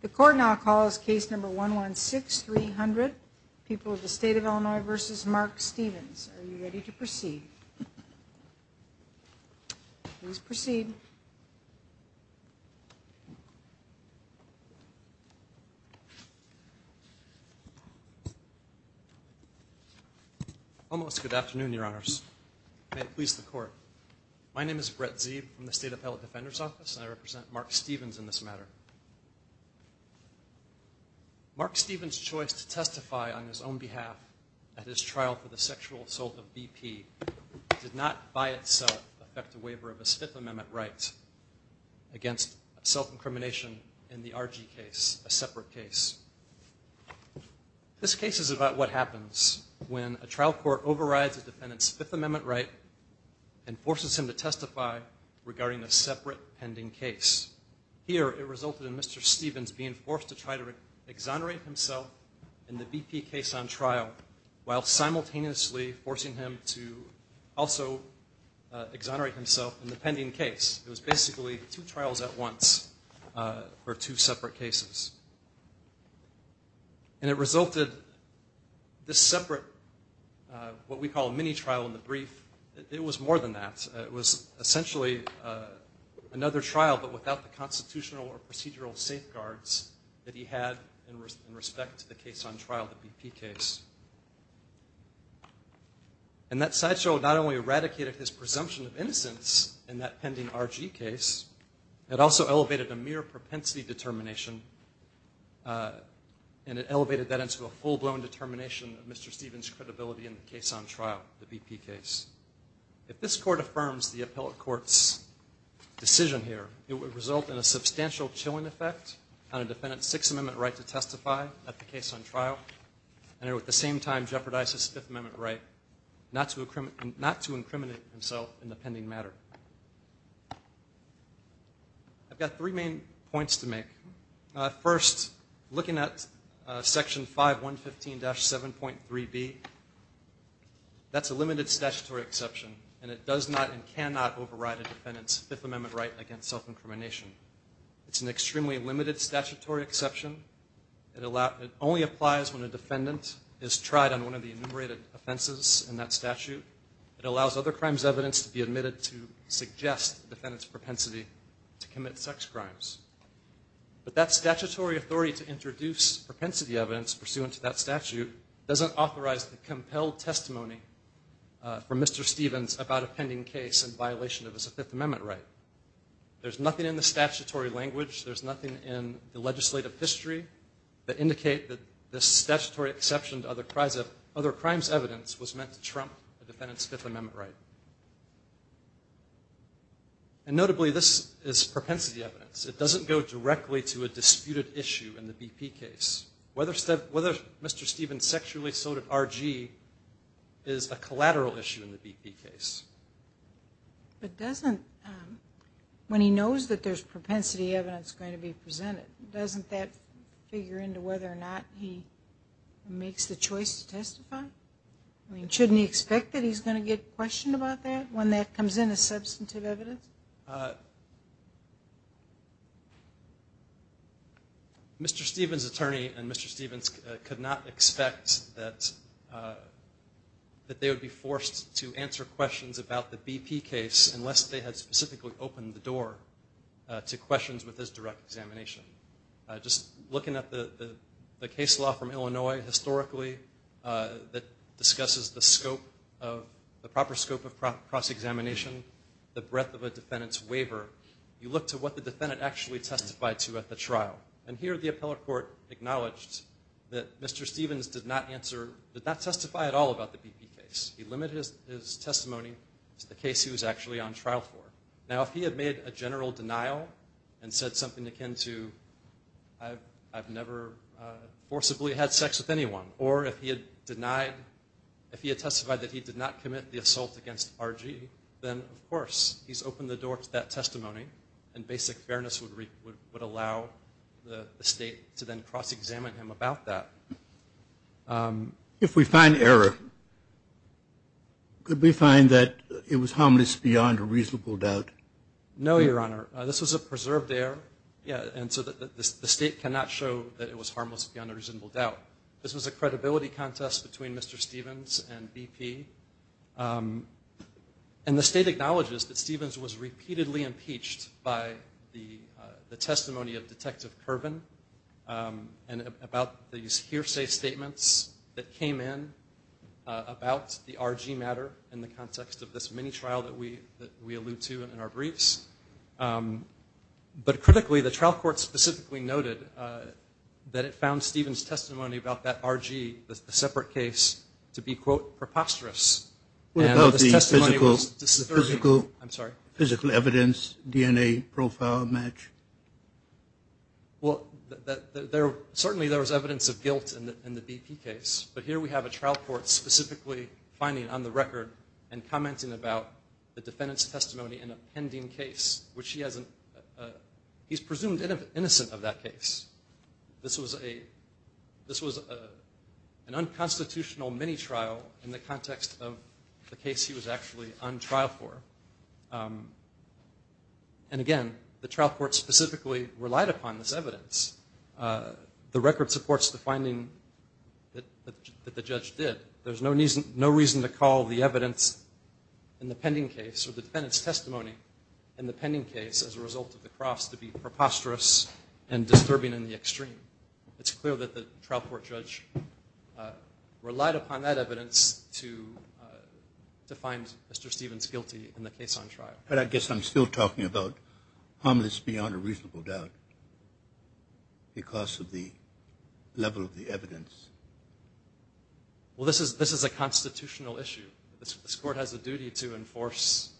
The court now calls case number 116-300, People of the State of Illinois v. Mark Stevens. Are you ready to proceed? Please proceed. Almost good afternoon, Your Honors. May it please the court. My name is Brett Zeeb from the State Appellate Defender's Office, and I represent Mark Stevens in this matter. Mark Stevens' choice to testify on his own behalf at his trial for the sexual assault of BP did not by itself affect a waiver of his Fifth Amendment right against self-incrimination in the RG case, a separate case. This case is about what happens when a trial court overrides a defendant's Fifth Amendment right and forces him to testify regarding a separate pending case. Here, it resulted in Mr. Stevens being forced to try to exonerate himself in the BP case on trial while simultaneously forcing him to also exonerate himself in the pending case. It was basically two trials at once for two separate cases. And it resulted, this separate what we call a mini-trial in the brief, it was more than that. It was essentially another trial but without the constitutional or procedural safeguards that he had in respect to the case on trial, the BP case. And that sideshow not only eradicated his presumption of innocence in that pending RG case, it also elevated a mere propensity determination and it elevated that into a full-blown determination of Mr. Stevens' credibility in the case on trial, the BP case. If this Court affirms the appellate court's decision here, it would result in a substantial chilling effect on a defendant's Sixth Amendment right to testify at the case on trial. And at the same time jeopardize his Fifth Amendment right not to incriminate himself in the pending matter. I've got three main points to make. First, looking at Section 5115-7.3b, that's a limited statutory exception and it does not and cannot override a defendant's Fifth Amendment right against self-incrimination. It's an extremely limited statutory exception. It only applies when a defendant is tried on one of the enumerated offenses in that statute. It allows other crimes evidence to be admitted to suggest the defendant's propensity to commit sex crimes. But that statutory authority to introduce propensity evidence pursuant to that statute doesn't authorize the compelled testimony from Mr. Stevens about a pending case in violation of his Fifth Amendment right. There's nothing in the statutory language, there's nothing in the legislative history that indicate that this statutory exception to other crimes evidence was meant to trump a defendant's Fifth Amendment right. And notably, this is propensity evidence. It doesn't go directly to a disputed issue in the BP case. Whether Mr. Stevens sexually assaulted R.G. is a collateral issue in the BP case. But doesn't, when he knows that there's propensity evidence going to be presented, doesn't that figure into whether or not he makes the choice to testify? I mean, shouldn't he expect that he's going to get questioned about that when that comes in as substantive evidence? Mr. Stevens' attorney and Mr. Stevens could not expect that they would be forced to answer questions about the BP case unless they had specifically opened the door to questions with his direct examination. Just looking at the case law from Illinois historically that discusses the scope of, the proper scope of cross-examination, the breadth of a defendant's waiver, you look to what the defendant actually testified to at the trial. And here the appellate court acknowledged that Mr. Stevens did not answer, did not testify at all about the BP case. He limited his testimony to the case he was actually on trial for. Now, if he had made a general denial and said something akin to, I've never forcibly had sex with anyone, or if he had denied, if he had testified that he did not commit the assault against R.G., then, of course, he's opened the door to that testimony and basic fairness would allow the state to then cross-examine him about that. If we find error, could we find that it was harmless beyond a reasonable doubt? No, Your Honor. This was a preserved error, and so the state cannot show that it was harmless beyond a reasonable doubt. This was a credibility contest between Mr. Stevens and BP. And the state acknowledges that Stevens was repeatedly impeached by the testimony of Detective Kerbin and about these hearsay statements that came in about the R.G. matter in the context of this mini-trial that we allude to in our briefs. But critically, the trial court specifically noted that it found Stevens' testimony about that R.G., the separate case, to be, quote, preposterous. What about the physical evidence, DNA profile match? Well, certainly there was evidence of guilt in the BP case. But here we have a trial court specifically finding on the record and commenting about the defendant's testimony in a pending case, which he's presumed innocent of that case. This was an unconstitutional mini-trial in the context of the case he was actually on trial for. And again, the trial court specifically relied upon this evidence. The record supports the finding that the judge did. There's no reason to call the evidence in the pending case or the defendant's testimony in the pending case as a result of the cross to be preposterous and disturbing in the extreme. It's clear that the trial court judge relied upon that evidence to find Mr. Stevens guilty in the case on trial. But I guess I'm still talking about harmless beyond a reasonable doubt because of the level of the evidence. Well, this is a constitutional issue. This court has a duty to enforce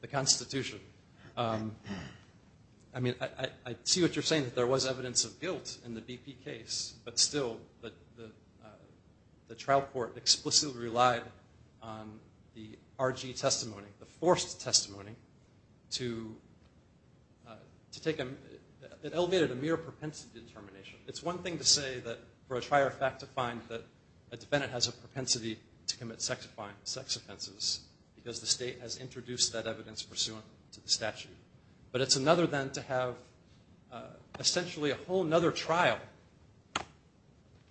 the Constitution. I mean, I see what you're saying, that there was evidence of guilt in the BP case. But still, the trial court explicitly relied on the RG testimony, the forced testimony. It elevated a mere propensity determination. It's one thing to say that for a trial fact to find that a defendant has a propensity to commit sex offenses because the state has introduced that evidence pursuant to the statute. But it's another then to have essentially a whole other trial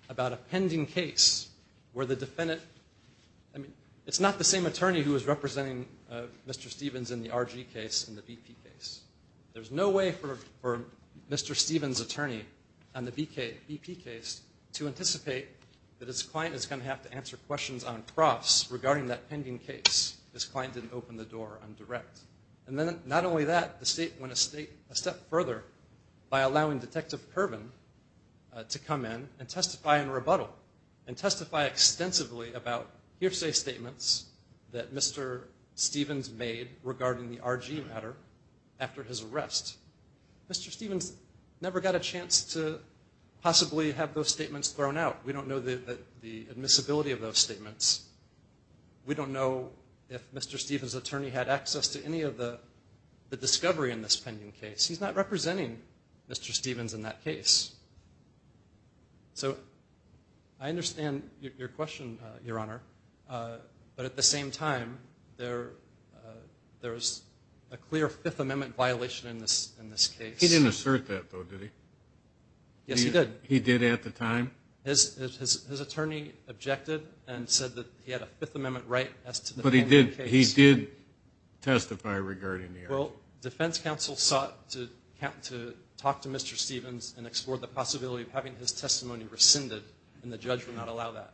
about a pending case where the defendant – I mean, it's not the same attorney who is representing Mr. Stevens in the RG case and the BP case. There's no way for Mr. Stevens' attorney on the BP case to anticipate that his client is going to have to answer questions on profs regarding that pending case. His client didn't open the door on direct. And then not only that, the state went a step further by allowing Detective Kerbin to come in and testify in rebuttal and testify extensively about hearsay statements that Mr. Stevens made regarding the RG matter after his arrest. Mr. Stevens never got a chance to possibly have those statements thrown out. We don't know the admissibility of those statements. We don't know if Mr. Stevens' attorney had access to any of the discovery in this pending case. He's not representing Mr. Stevens in that case. So I understand your question, Your Honor. But at the same time, there is a clear Fifth Amendment violation in this case. He didn't assert that, though, did he? Yes, he did. He did at the time? His attorney objected and said that he had a Fifth Amendment right as to the pending case. But he did testify regarding the RG? Well, defense counsel sought to talk to Mr. Stevens and explore the possibility of having his testimony rescinded, and the judge would not allow that.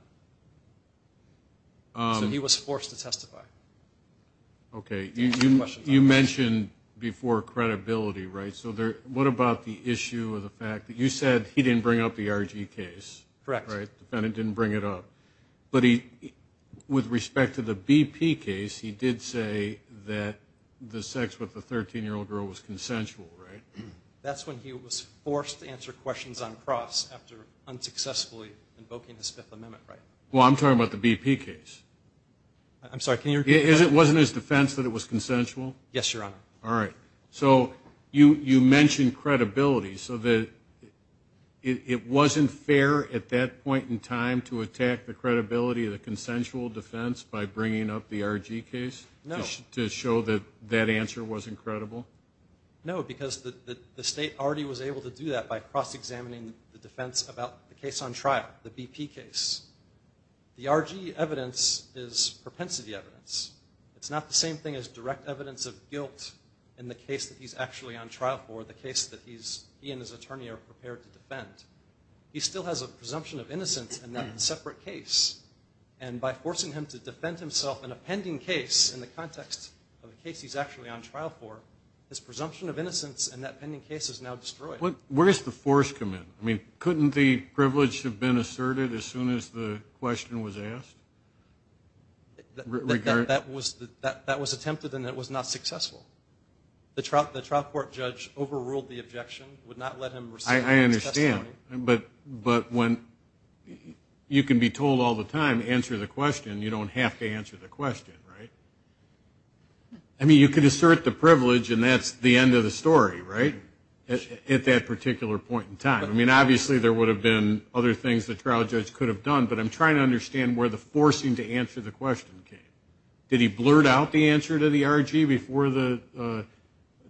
So he was forced to testify. Okay. You mentioned before credibility, right? So what about the issue of the fact that you said he didn't bring up the RG case? Correct. The defendant didn't bring it up. But with respect to the BP case, he did say that the sex with the 13-year-old girl was consensual, right? That's when he was forced to answer questions on cross after unsuccessfully invoking his Fifth Amendment right. Well, I'm talking about the BP case. I'm sorry, can you repeat that? It wasn't his defense that it was consensual? Yes, Your Honor. All right. So you mentioned credibility. So it wasn't fair at that point in time to attack the credibility of the consensual defense by bringing up the RG case? No. To show that that answer wasn't credible? No, because the state already was able to do that by cross-examining the defense about the case on trial, the BP case. The RG evidence is propensity evidence. It's not the same thing as direct evidence of guilt in the case that he's actually on trial for, the case that he and his attorney are prepared to defend. He still has a presumption of innocence in that separate case. And by forcing him to defend himself in a pending case in the context of a case he's actually on trial for, his presumption of innocence in that pending case is now destroyed. Where does the force come in? I mean, couldn't the privilege have been asserted as soon as the question was asked? That was attempted and it was not successful. The trial court judge overruled the objection, would not let him receive his testimony. I understand. But when you can be told all the time, answer the question, you don't have to answer the question, right? I mean, you could assert the privilege and that's the end of the story, right, at that particular point in time. I mean, obviously there would have been other things the trial judge could have done, but I'm trying to understand where the forcing to answer the question came. Did he blurt out the answer to the RG before the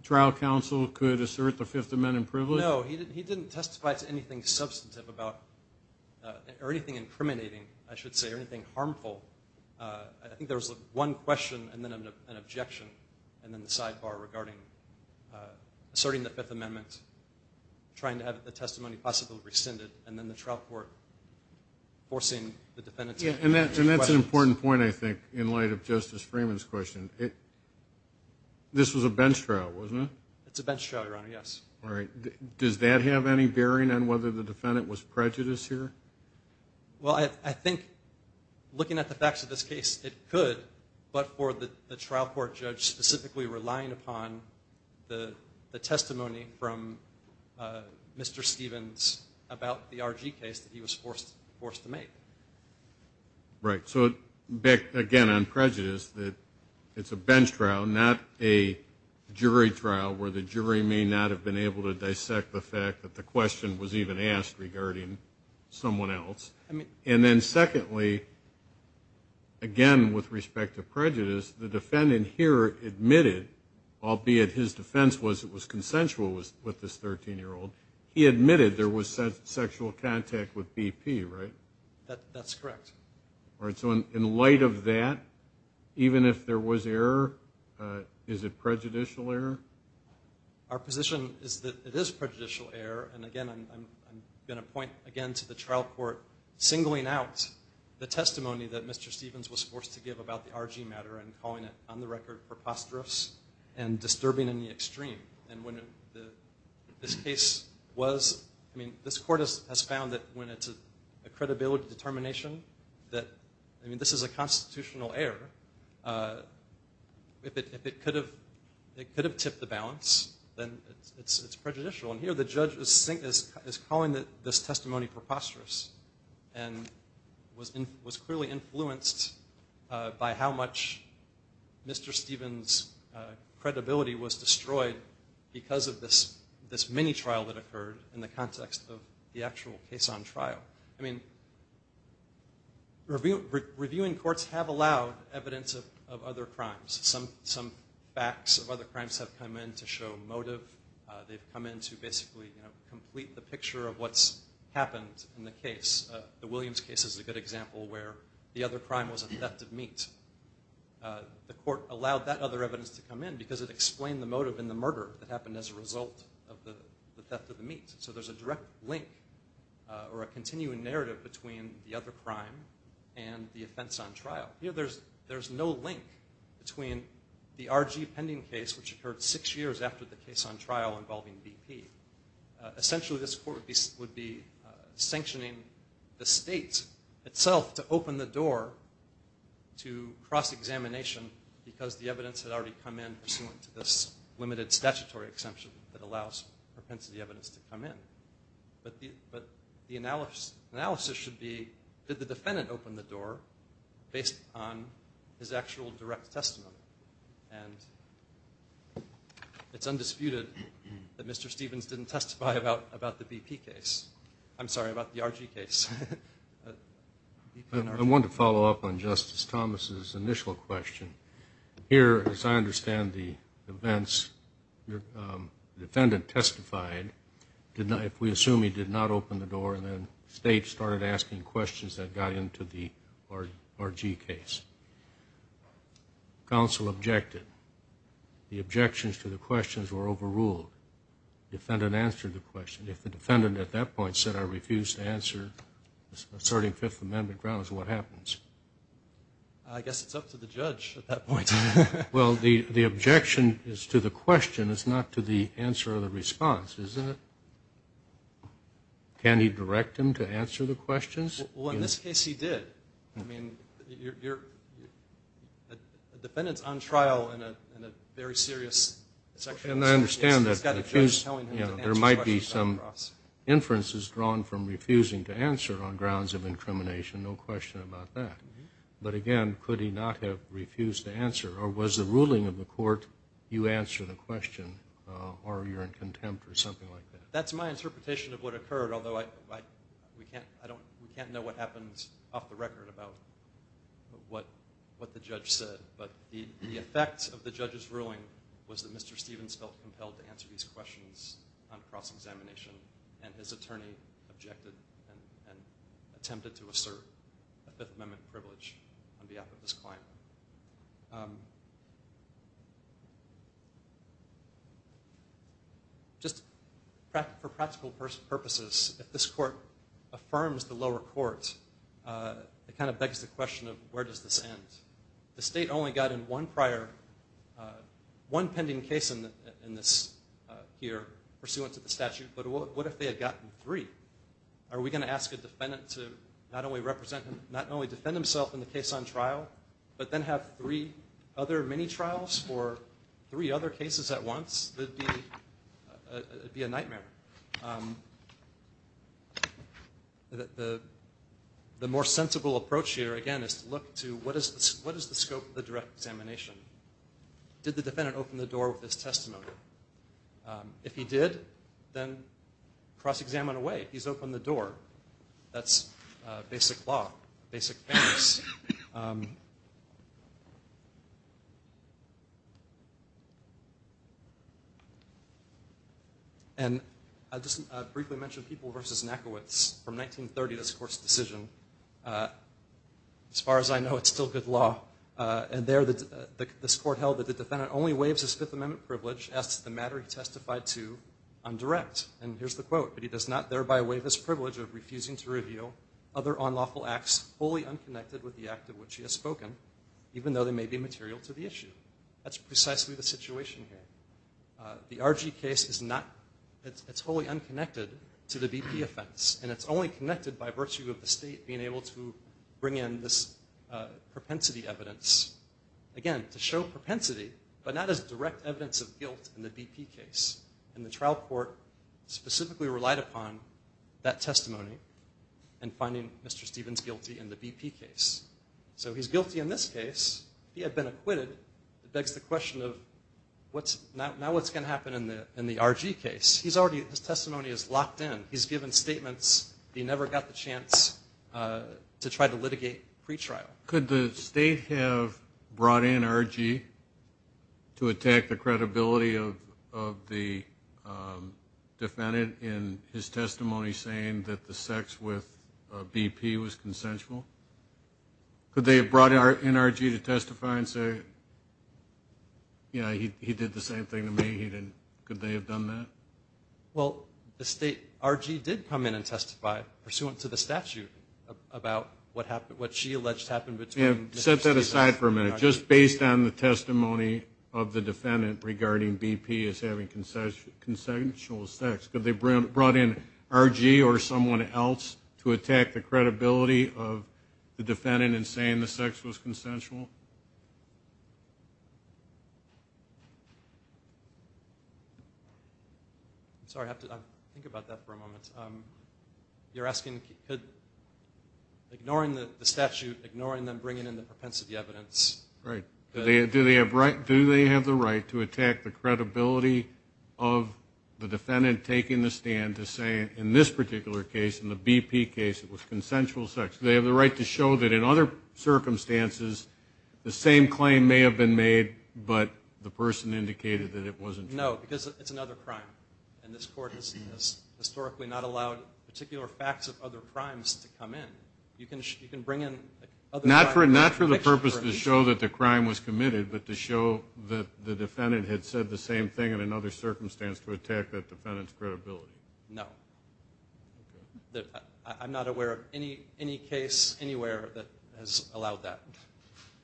trial counsel could assert the Fifth Amendment privilege? No. He didn't testify to anything substantive about or anything incriminating, I should say, or anything harmful. I think there was one question and then an objection and then the sidebar regarding asserting the Fifth Amendment, trying to have the testimony possibly rescinded and then the trial court forcing the defendant to answer the question. And that's an important point, I think, in light of Justice Freeman's question. This was a bench trial, wasn't it? It's a bench trial, Your Honor, yes. All right. Does that have any bearing on whether the defendant was prejudiced here? Well, I think looking at the facts of this case, it could, but for the trial court judge specifically relying upon the testimony from Mr. Stevens about the RG case that he was forced to make. Right. So, again, on prejudice, it's a bench trial, not a jury trial, where the jury may not have been able to dissect the fact that the question was even asked regarding someone else. And then secondly, again, with respect to prejudice, the defendant here admitted, albeit his defense was it was consensual with this 13-year-old, he admitted there was sexual contact with BP, right? That's correct. All right. So in light of that, even if there was error, is it prejudicial error? Our position is that it is prejudicial error. And, again, I'm going to point, again, to the trial court singling out the testimony that Mr. Stevens was forced to give about the RG matter and calling it, on the record, preposterous and disturbing in the extreme. And when this case was, I mean, this court has found that when it's a credibility determination that, I mean, this is a constitutional error, if it could have tipped the balance, then it's prejudicial. And here the judge is calling this testimony preposterous and was clearly influenced by how much Mr. Stevens' credibility was destroyed because of this mini-trial that occurred in the context of the actual case on trial. I mean, reviewing courts have allowed evidence of other crimes. Some facts of other crimes have come in to show motive. They've come in to basically complete the picture of what's happened in the case. The Williams case is a good example where the other crime was a theft of meat. The court allowed that other evidence to come in because it explained the motive in the murder that happened as a result of the theft of the meat. So there's a direct link or a continuing narrative between the other crime and the offense on trial. You know, there's no link between the RG pending case, which occurred six years after the case on trial involving BP. Essentially this court would be sanctioning the state itself to open the door to cross-examination because the evidence had already come in pursuant to this limited statutory exemption that allows propensity evidence to come in. But the analysis should be, did the defendant open the door based on his actual direct testimony? It's undisputed that Mr. Stevens didn't testify about the BP case. I'm sorry, about the RG case. I want to follow up on Justice Thomas' initial question. Here, as I understand the events, the defendant testified. If we assume he did not open the door, then the state started asking questions that got into the RG case. Counsel objected. The objections to the questions were overruled. The defendant answered the question. If the defendant at that point said, I refuse to answer, starting Fifth Amendment grounds, what happens? I guess it's up to the judge at that point. Well, the objection is to the question. It's not to the answer or the response, isn't it? Can he direct him to answer the questions? Well, in this case, he did. A defendant's on trial in a very serious sexual assault case. There might be some inferences drawn from refusing to answer on grounds of incrimination, no question about that. But again, could he not have refused to answer, or was the ruling of the court, you answer the question, or you're in contempt or something like that? That's my interpretation of what occurred, although we can't know what happened off the record about what the judge said. But the effect of the judge's ruling was that Mr. Stevens felt compelled to answer these questions on cross-examination, and his attorney objected and attempted to assert a Fifth Amendment privilege on behalf of his client. Just for practical purposes, if this court affirms the lower court, it kind of begs the question of where does this end? The state only got in one pending case in this here pursuant to the statute, but what if they had gotten three? Are we going to ask a defendant to not only defend himself in the case on trial, but then have three other mini-trials for three other cases at once? It would be a nightmare. The more sensible approach here, again, is to look to what is the scope of the direct examination? Did the defendant open the door with his testimony? If he did, then cross-examine away. He's opened the door. That's basic law, basic fairness. And I'll just briefly mention People v. Nackiewicz from 1930, this court's decision. As far as I know, it's still good law. And there, this court held that the defendant only waives his Fifth Amendment privilege as to the matter he testified to on direct. And here's the quote, but he does not thereby waive his privilege of refusing to reveal other unlawful acts wholly unconnected with the act of which he has spoken, even though they may be material to the issue. That's precisely the situation here. The R.G. case is not, it's wholly unconnected to the BP offense, and it's only connected by virtue of the state being able to bring in this propensity evidence. Again, to show propensity, but not as direct evidence of guilt in the BP case. And the trial court specifically relied upon that testimony in finding Mr. Stevens guilty in the BP case. So he's guilty in this case. He had been acquitted. It begs the question of, now what's going to happen in the R.G. case? His testimony is locked in. He's given statements. He never got the chance to try to litigate pretrial. Could the state have brought in R.G. to attack the credibility of the defendant in his testimony saying that the sex with BP was consensual? Could they have brought in R.G. to testify and say, yeah, he did the same thing to me. He didn't. Could they have done that? Well, R.G. did come in and testify pursuant to the statute about what she alleged happened between Mr. Stevens and R.G. Set that aside for a minute. Just based on the testimony of the defendant regarding BP as having consensual sex. Could they have brought in R.G. or someone else to attack the credibility of the defendant in saying the sex was consensual? Sorry, I have to think about that for a moment. You're asking, ignoring the statute, ignoring them bringing in the propensity evidence. Right. Do they have the right to attack the credibility of the defendant taking the stand to say in this particular case, in the BP case, it was consensual sex? Do they have the right to show that in other circumstances the same claim may have been made, but the person indicated that it wasn't true? No, because it's another crime. And this Court has historically not allowed particular facts of other crimes to come in. Not for the purpose to show that the crime was committed, but to show that the defendant had said the same thing in another circumstance to attack that defendant's credibility? No. I'm not aware of any case anywhere that has allowed that.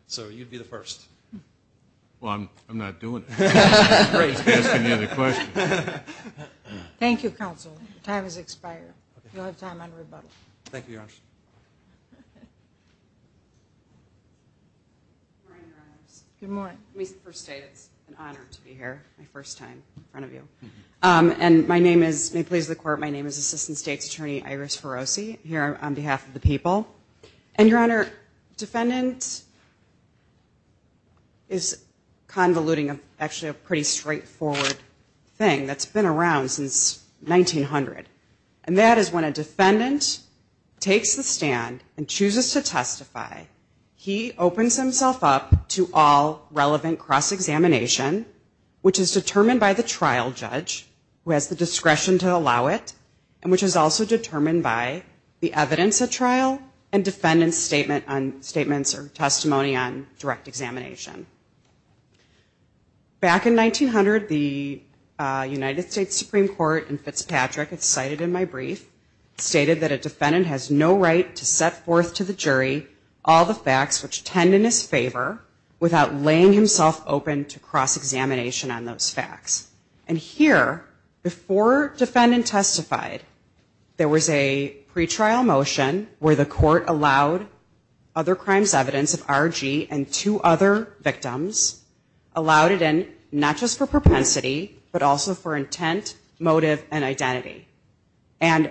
So you'd be the first. Well, I'm not doing it. I'm just asking the other questions. Thank you, Counsel. Your time has expired. You'll have time on rebuttal. Good morning, Your Honors. It's an honor to be here, my first time in front of you. And may it please the Court, my name is Assistant State's Attorney Iris Ferrosi, here on behalf of the people. And, Your Honor, defendant is convoluting actually a pretty straightforward thing. That's been around since 1900. And that is when a defendant takes the stand and chooses to testify, he opens himself up to all relevant cross-examination, which is determined by the trial judge, who has the discretion to allow it, and which is also determined by the evidence at trial and defendant's statements or testimony on direct examination. Back in 1900, the United States Supreme Court in Fitzpatrick, it's cited in my brief, stated that a defendant has no right to set forth to the jury all the facts which tend in his favor without laying himself open to cross-examination on those facts. And here, before defendant testified, there was a pretrial motion where the court allowed other crimes evidence of R.G. and two other defendants to testify. And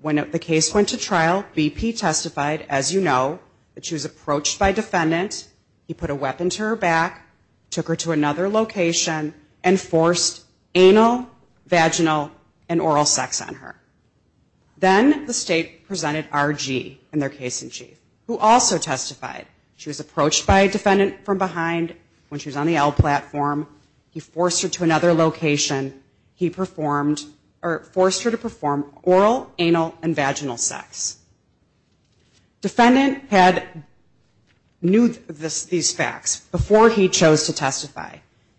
when the case went to trial, B.P. testified, as you know, that she was approached by defendant, he put a weapon to her back, took her to another location, and forced anal, vaginal, and oral sex on her. Then the state presented R.G. in their case in chief, who also testified. She was approached by a defendant from behind bars. When she was on the L platform, he forced her to another location. He performed, or forced her to perform oral, anal, and vaginal sex. Defendant had, knew these facts before he chose to testify.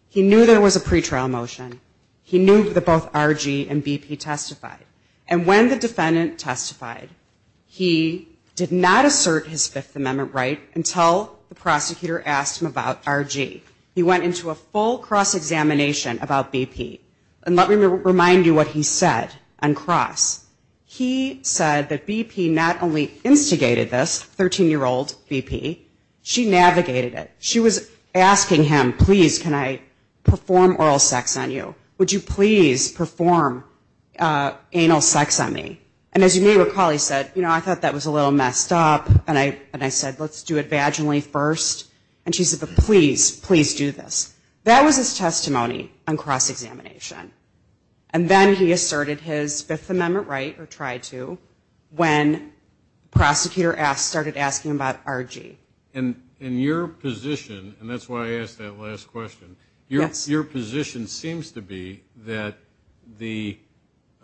He knew there was a pretrial motion. He knew that both R.G. and B.P. testified. And when the defendant testified, he did not assert his Fifth Amendment right until the prosecutor asked him about that. He went into a full cross-examination about B.P. And let me remind you what he said on cross. He said that B.P. not only instigated this 13-year-old B.P., she navigated it. She was asking him, please, can I perform oral sex on you? Would you please perform anal sex on me? And as you may recall, he said, you know, I thought that was a little messed up, and I said, let's do it vaginally first. And she said, but please, please do this. That was his testimony on cross-examination. And then he asserted his Fifth Amendment right, or tried to, when the prosecutor started asking about R.G. And your position, and that's why I asked that last question, your position seems to be that the,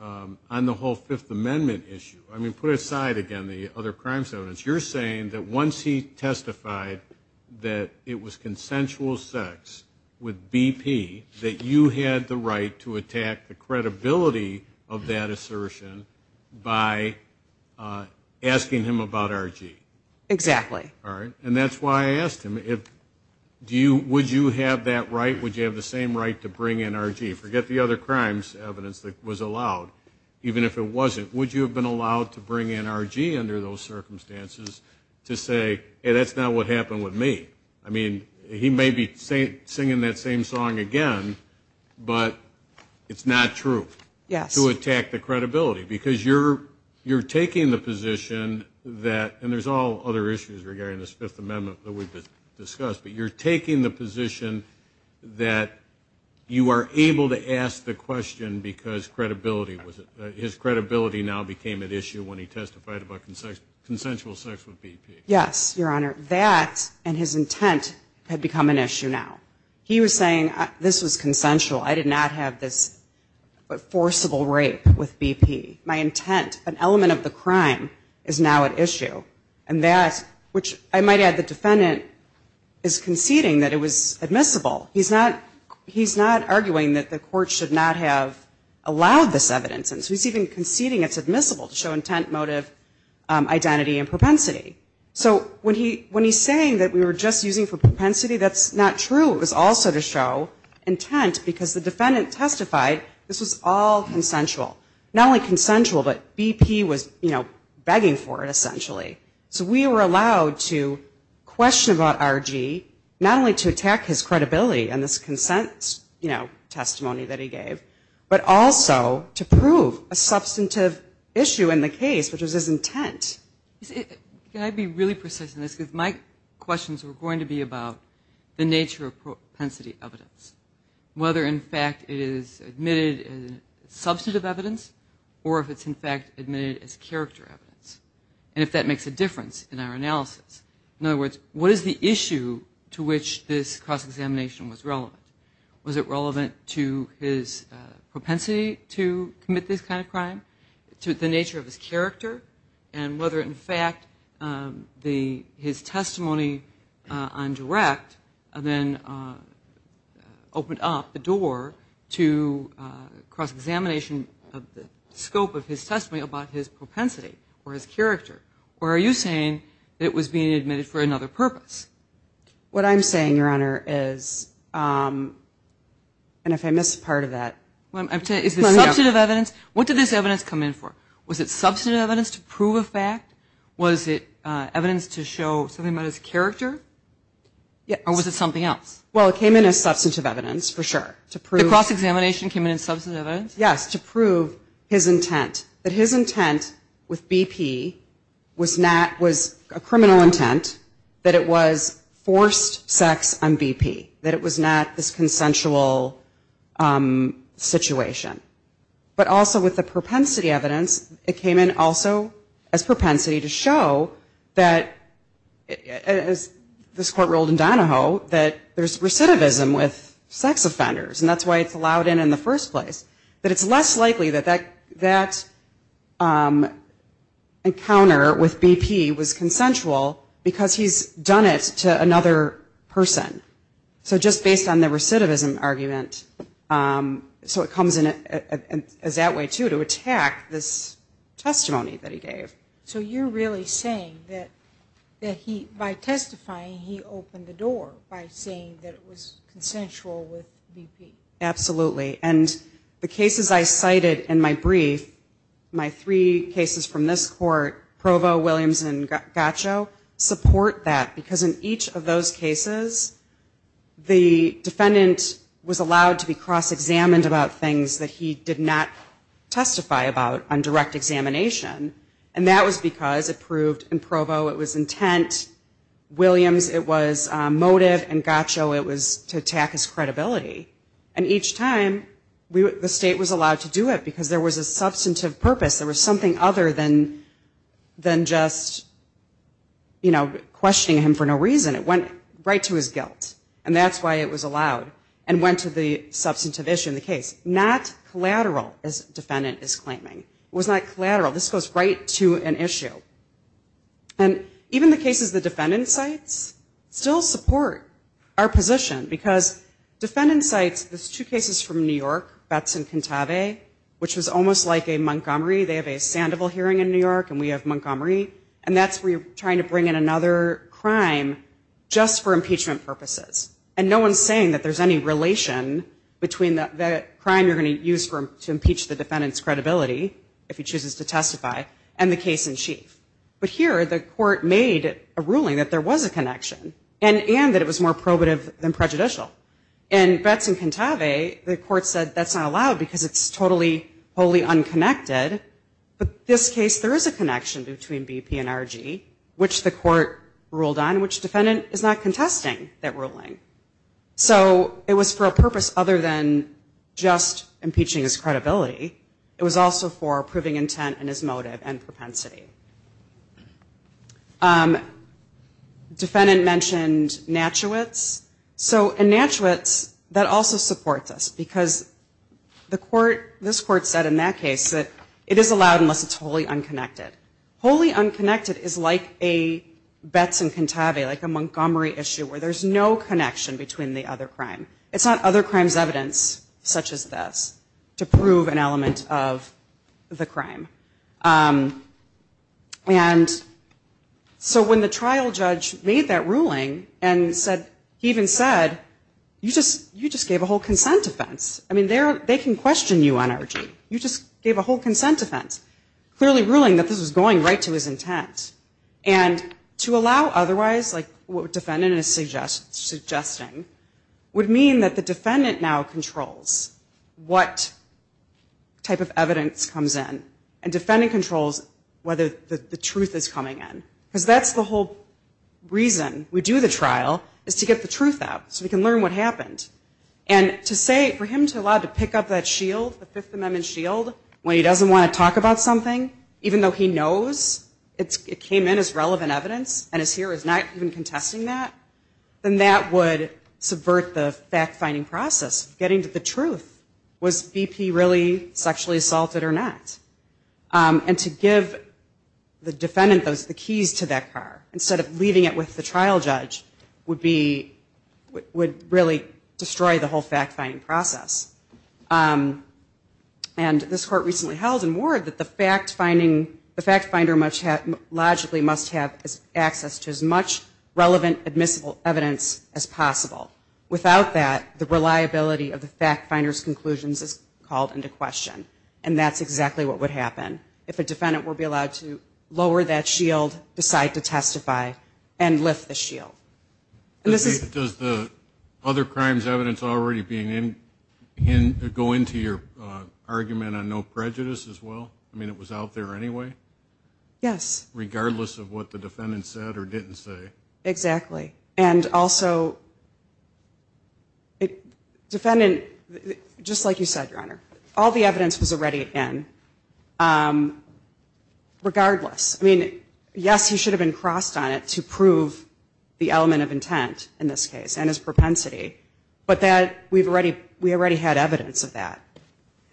on the whole Fifth Amendment issue, I mean, put aside, again, the other crimes evidence, you're saying that once he testified that it was consensual sex with B.P., that you had the right to attack the credibility of that assertion by asking him about R.G.? Exactly. All right. And that's why I asked him if, do you, would you have that right? Would you have the same right to bring in R.G.? Forget the other crimes evidence that was allowed, even if it wasn't, would you have been allowed to bring in R.G. under those circumstances to say, hey, that's not what happened with me? I mean, he may be singing that same song again, but it's not true. Yes. To attack the credibility, because you're taking the position that, and there's all other issues regarding this Fifth Amendment that we've discussed, but you're taking the position that you are able to ask the question because credibility, his credibility now became at issue when he testified about consensual sex with B.P. Yes, your Honor. That and his intent had become an issue now. He was saying this was consensual, I did not have this forcible rape with B.P. My intent, an element of the crime, is now at issue. And that, which I might add the defendant is conceding that it was admissible. He's not, he's not arguing that the court should not have allowed this evidence. And so he's even conceding it's admissible to show intent, motive, identity and propensity. So when he, when he's saying that we were just using for propensity, that's not true. It was also to show intent because the defendant testified this was all consensual. Not only consensual, but B.P. was, you know, begging for it essentially. So we were allowed to question about R.G., not only to attack his credibility in this consent, you know, testimony that he gave, but also to prove a substantive issue in the case, which was his intent. Can I be really precise in this, because my questions were going to be about the nature of propensity evidence. Whether in fact it is admitted as substantive evidence, or if it's in fact admitted as character evidence. And if that makes a difference in our analysis. In other words, what is the issue to which this cross-examination was relevant? Was it relevant to his propensity to commit this kind of crime? To the nature of his character? And whether in fact his testimony on direct then opened up the door to cross-examination of the scope of his testimony about his propensity or his character. Or are you saying it was being admitted for another purpose? What I'm saying, Your Honor, is, and if I missed part of that. Is the substantive evidence, what did this evidence come in for? Was it substantive evidence to prove a fact? Was it evidence to show something about his character? Or was it something else? Well, it came in as substantive evidence, for sure. The cross-examination came in as substantive evidence? Yes, to prove his intent. That his intent with BP was not, was a criminal intent. That it was forced sex on BP. That it was not this consensual situation. But also with the propensity evidence, it came in also as propensity to show that, as this Court ruled in Donahoe, that there's recidivism with sex offenders. And that's why it's allowed in in the first place. That it's less likely that that encounter with BP was consensual because he's done it to another person. So just based on the recidivism argument. So it comes in as that way, too, to attack this testimony that he gave. So you're really saying that he, by testifying, he opened the door by saying that it was consensual with BP? Absolutely. And the cases I cited in my brief, my three cases from this Court, Provo, Williams, and Gaccio, support that. Because in each of those cases, the defendant was allowed to be cross-examined about things that he did not testify about on direct examination. And that was because it proved in Provo it was intent, Williams it was motive, and Gaccio it was to attack his credibility. And each time, the state was allowed to do it because there was a substantive purpose. There was something other than just questioning him for no reason. It went right to his guilt. And that's why it was allowed. And went to the substantive issue in the case. Not collateral, as defendant is claiming. It was not collateral. This goes right to an issue. And even the cases the defendant cites still support our position. Because defendant cites, there's two cases from New York, Betz and Cantave, which was almost like a Montgomery. They have a Sandoval hearing in New York and we have Montgomery. And that's where you're trying to bring in another crime just for impeachment purposes. And no one's saying that there's any relation between the crime you're going to use to impeach the defendant's credibility, if he chooses to testify, and the case in chief. But here, the court made a ruling that there was a connection. And that it was more probative than prejudicial. In Betz and Cantave, the court said that's not allowed because it's totally, wholly unconnected. But this case, there is a connection between BP and RG, which the court ruled on, which defendant is not contesting that ruling. So it was for a purpose other than just impeaching his credibility. It was also for proving intent and his motive and propensity. Defendant mentioned Natchewitz. So in Natchewitz, that also supports us. Because the court, this court said in that case that it is allowed unless it's wholly unconnected. Wholly unconnected is like a Betz and Cantave, like a Montgomery issue, where there's no connection between the other crime. It's not other crime's evidence, such as this, to prove an element of the crime. And so when the trial judge made that ruling and said, he even said, you just gave a whole consent offense. I mean, they can question you on RG. You just gave a whole consent offense, clearly ruling that this was going right to his intent. And to allow otherwise, like what defendant is suggesting, would mean that the defendant now controls what type of evidence comes in. And defendant controls whether the truth is coming in. Because that's the whole reason we do the trial, is to get the truth out so we can learn what happened. And to say, for him to allow to pick up that shield, the Fifth Amendment shield, when he doesn't want to talk about something, even though he knows it came in as relevant evidence and is here, is not even contesting that, then that would subvert the fact-finding process. Getting to the truth, was BP really sexually assaulted or not? And to give the defendant the keys to that car, instead of leaving it with the trial judge, would really destroy the whole fact-finding process. And this court recently held in Ward that the fact-finder logically must have access to as much relevant admissible evidence as possible. Without that, the reliability of the fact-finder's conclusions is called into question. And that's exactly what would happen. If a defendant were to be allowed to lower that shield, decide to testify, and lift the shield. Does the other crimes evidence already go into your argument on no prejudice as well? I mean, it was out there anyway? Yes. Regardless of what the defendant said or didn't say? Exactly. And also, defendant, just like you said, Your Honor, all the evidence was already in, regardless. I mean, yes, he should have been crossed on it to prove the element of intent in this case, and his propensity, but we already had evidence of that.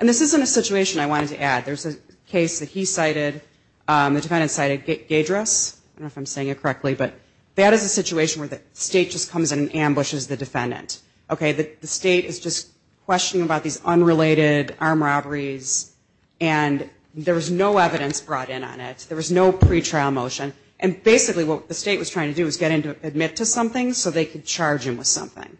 And this isn't a situation I wanted to add. There's a case that he cited, the defendant cited Gaydress. I don't know if I'm saying it correctly, but that is a situation where the state just comes in and ambushes the defendant. Okay, the state is just questioning about these unrelated armed robberies, and there was no evidence brought in on it. There was no pretrial motion. And basically what the state was trying to do was get him to admit to something so they could charge him with something.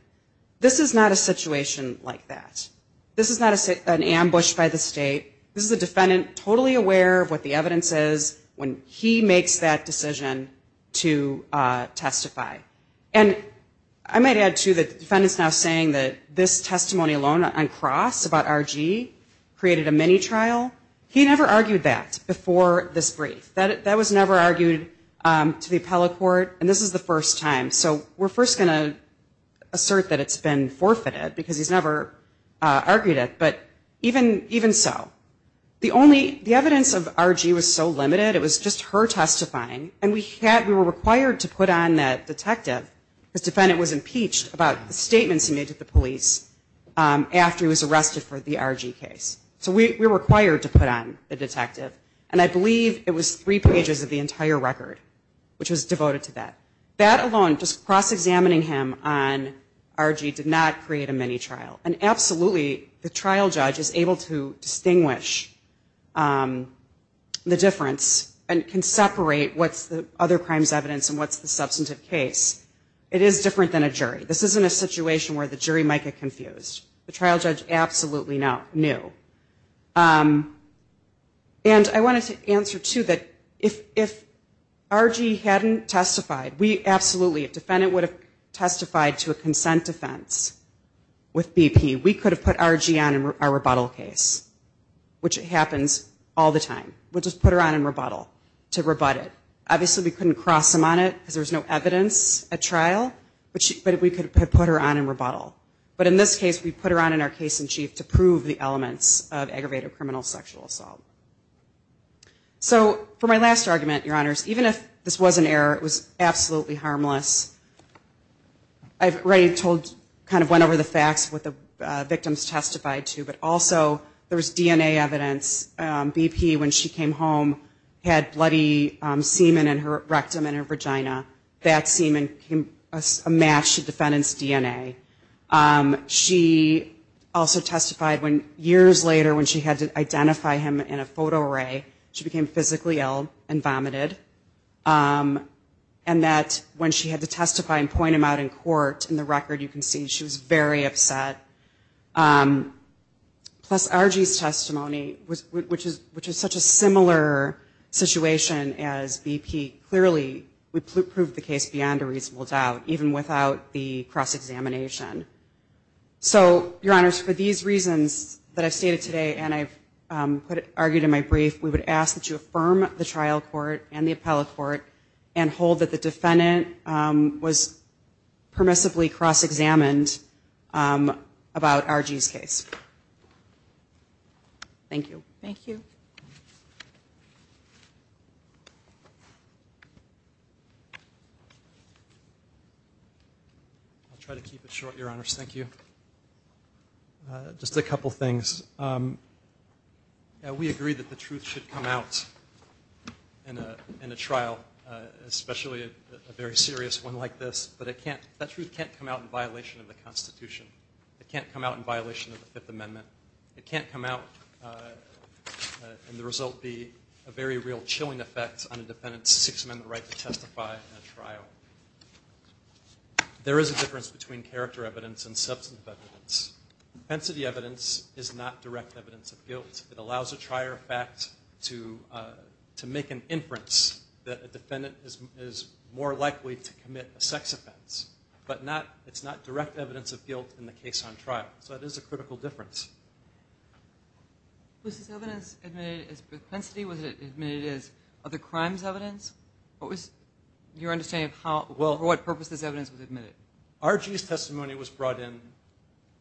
This is not a situation like that. This is not an ambush by the state. This is a defendant totally aware of what the evidence is when he makes that decision to testify. And I might add, too, that the defendant is now saying that this testimony alone on cross about R.G. created a mini-trial. He never argued that before this brief. That was never argued to the appellate court, and this is the first time. So we're first going to assert that it's been forfeited, because he's never argued it. But even so, the evidence of R.G. was so limited, it was just her testifying, and we were required to put on that detective, because the defendant was impeached, about the statements he made to the police after he was arrested for the R.G. case. So we were required to put on the detective, and I believe it was three pages of the entire record, which was devoted to that. That alone, just cross-examining him on R.G. did not create a mini-trial. And absolutely, the trial judge is able to distinguish the difference and can separate what's the other crime's evidence and what's the substantive case. It is different than a jury. This isn't a situation where the jury might get confused. The trial judge absolutely knew. And I wanted to answer, too, that if R.G. hadn't testified, we absolutely, if the defendant would have testified to a consent defense with BP, we could have put R.G. on in our rebuttal case, which happens all the time. We'll just put her on in rebuttal to rebut it. Obviously, we couldn't cross him on it because there was no evidence at trial, but we could have put her on in rebuttal. But in this case, we put her on in our case in chief to prove the elements of aggravated criminal sexual assault. So for my last argument, Your Honors, even if this was an error, it was absolutely harmless. I've already told, kind of went over the facts of what the victims testified to, but also there was DNA evidence. BP, when she came home, had bloody semen in her rectum and her vagina. That semen matched the defendant's DNA. She also testified when years later when she had to identify him in a photo array, she became physically ill and vomited. And that when she had to testify and point him out in court, in the record you can see, she was very upset. Plus, R.G.'s testimony, which is such a similar situation as BP, clearly would prove the case beyond a reasonable doubt, even without the cross-examination. So, Your Honors, for these reasons that I've stated today and I've argued in my brief, we would ask that you affirm the trial court and the appellate court and hold that the defendant was permissibly cross-examined. About R.G.'s case. Thank you. I'll try to keep it short, Your Honors. Thank you. Just a couple things. We agree that the truth should come out in a trial, especially a very serious one like this, but that truth can't come out in violation of the Constitution. It can't come out in violation of the Fifth Amendment. It can't come out and the result be a very real chilling effect on a defendant's Sixth Amendment right to testify in a trial. There is a difference between character evidence and substantive evidence. Defense of the evidence is not direct evidence of guilt. It allows a trier of facts to make an inference that a defendant is more likely to commit a sex offense. But it's not direct evidence of guilt in the case on trial. So it is a critical difference. Was this evidence admitted as propensity? Was it admitted as other crimes evidence? What was your understanding of how or what purpose this evidence was admitted? R.G.'s testimony was brought in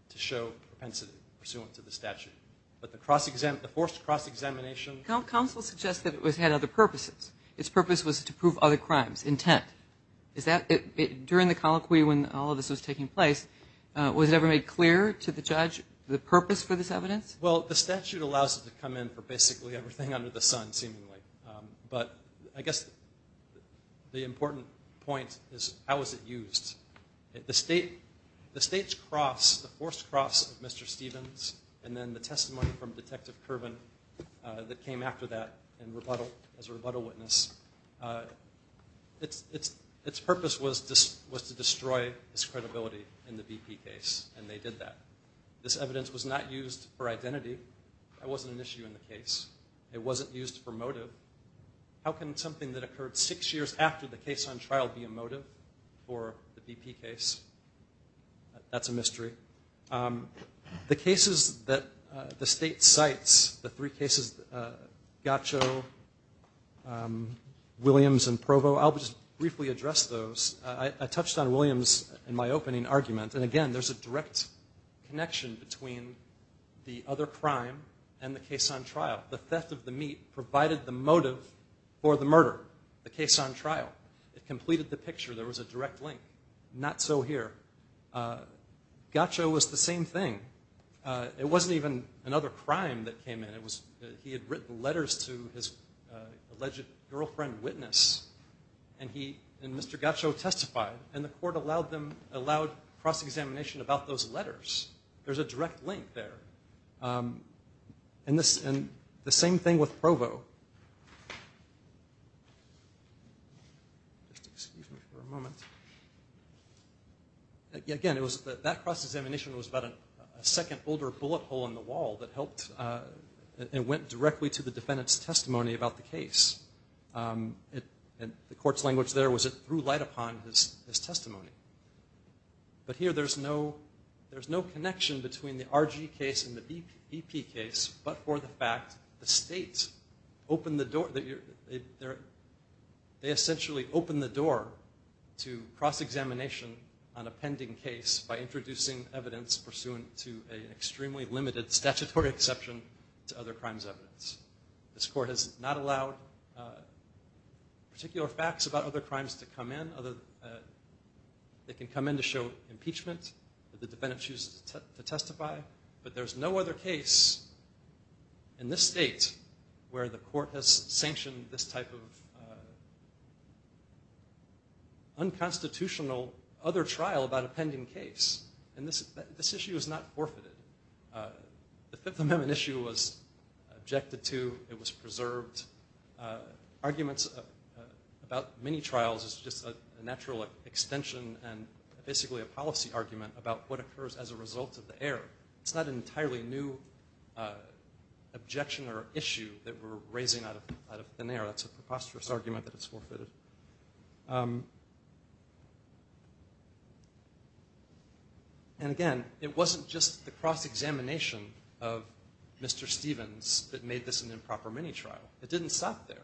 to show propensity pursuant to the statute. But the forced cross-examination... Counsel suggested it had other purposes. Its purpose was to prove other crimes. Intent. During the colloquy when all of this was taking place, was it ever made clear to the judge the purpose for this evidence? Well, the statute allows it to come in for basically everything under the sun, seemingly. But I guess the important point is how was it used? The state's cross, the forced cross of Mr. Stevens, and then the testimony from Detective Kerbin that came out, came out after that as a rebuttal witness. Its purpose was to destroy this credibility in the BP case. And they did that. This evidence was not used for identity. It wasn't an issue in the case. It wasn't used for motive. How can something that occurred six years after the case on trial be a motive? The cases that the state cites, the three cases, Gaccio, Williams, and Provo, I'll just briefly address those. I touched on Williams in my opening argument. And again, there's a direct connection between the other crime and the case on trial. The theft of the meat provided the motive for the murder, the case on trial. It completed the picture. There was a direct link. Not so here. Gaccio was the same thing. It wasn't even another crime that came in. He had written letters to his alleged girlfriend witness. And Mr. Gaccio testified. And the court allowed cross-examination about those letters. There's a direct link there. And the same thing with Provo. Just excuse me for a moment. Again, that cross-examination was about a second older bullet hole in the wall that helped and went directly to the defendant's testimony about the case. The court's language there was it threw light upon his testimony. But here there's no connection between the RG case and the BP case, but for the fact the state opened the door. They essentially opened the door to cross-examination on a pending case by introducing evidence pursuant to an extremely limited statutory exception to other crimes evidence. This court has not allowed particular facts about other crimes to come in. They can come in to show impeachment that the defendant chooses to testify. But there's no other case in this state where the court has sanctioned this type of unconstitutional other trial about a pending case. And this issue is not forfeited. The Fifth Amendment issue was objected to. It was preserved. Arguments about mini-trials is just a natural extension and basically a policy argument about what occurs as a result of the error. It's not an entirely new objection or issue that we're raising out of thin air. That's a preposterous argument that it's forfeited. And again, it wasn't just the cross-examination of Mr. Stevens that made this an improper mini-trial. It didn't stop there.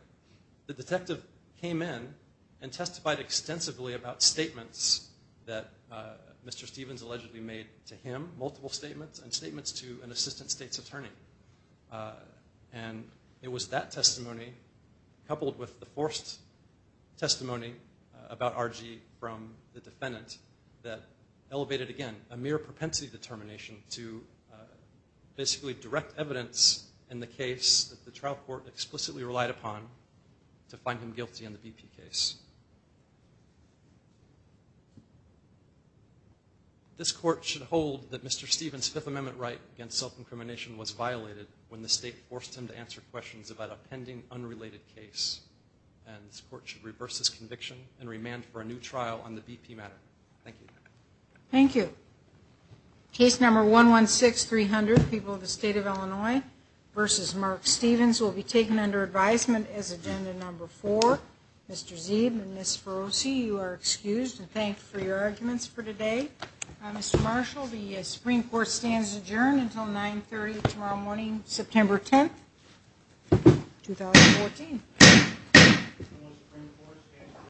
The detective came in and testified extensively about statements that Mr. Stevens allegedly made to him, multiple statements, and statements to an assistant state's attorney. And it was that testimony, coupled with the forced testimony about R.G. from the defendant, that elevated, again, a mere propensity determination to basically direct evidence in the case that the trial court explicitly relied upon to find him guilty in the BP case. This court should hold that Mr. Stevens' Fifth Amendment right against self-incrimination was violated when the state forced him to answer questions about a pending, unrelated case. And this court should reverse this conviction and remand for a new trial on the BP matter. Thank you. Thank you.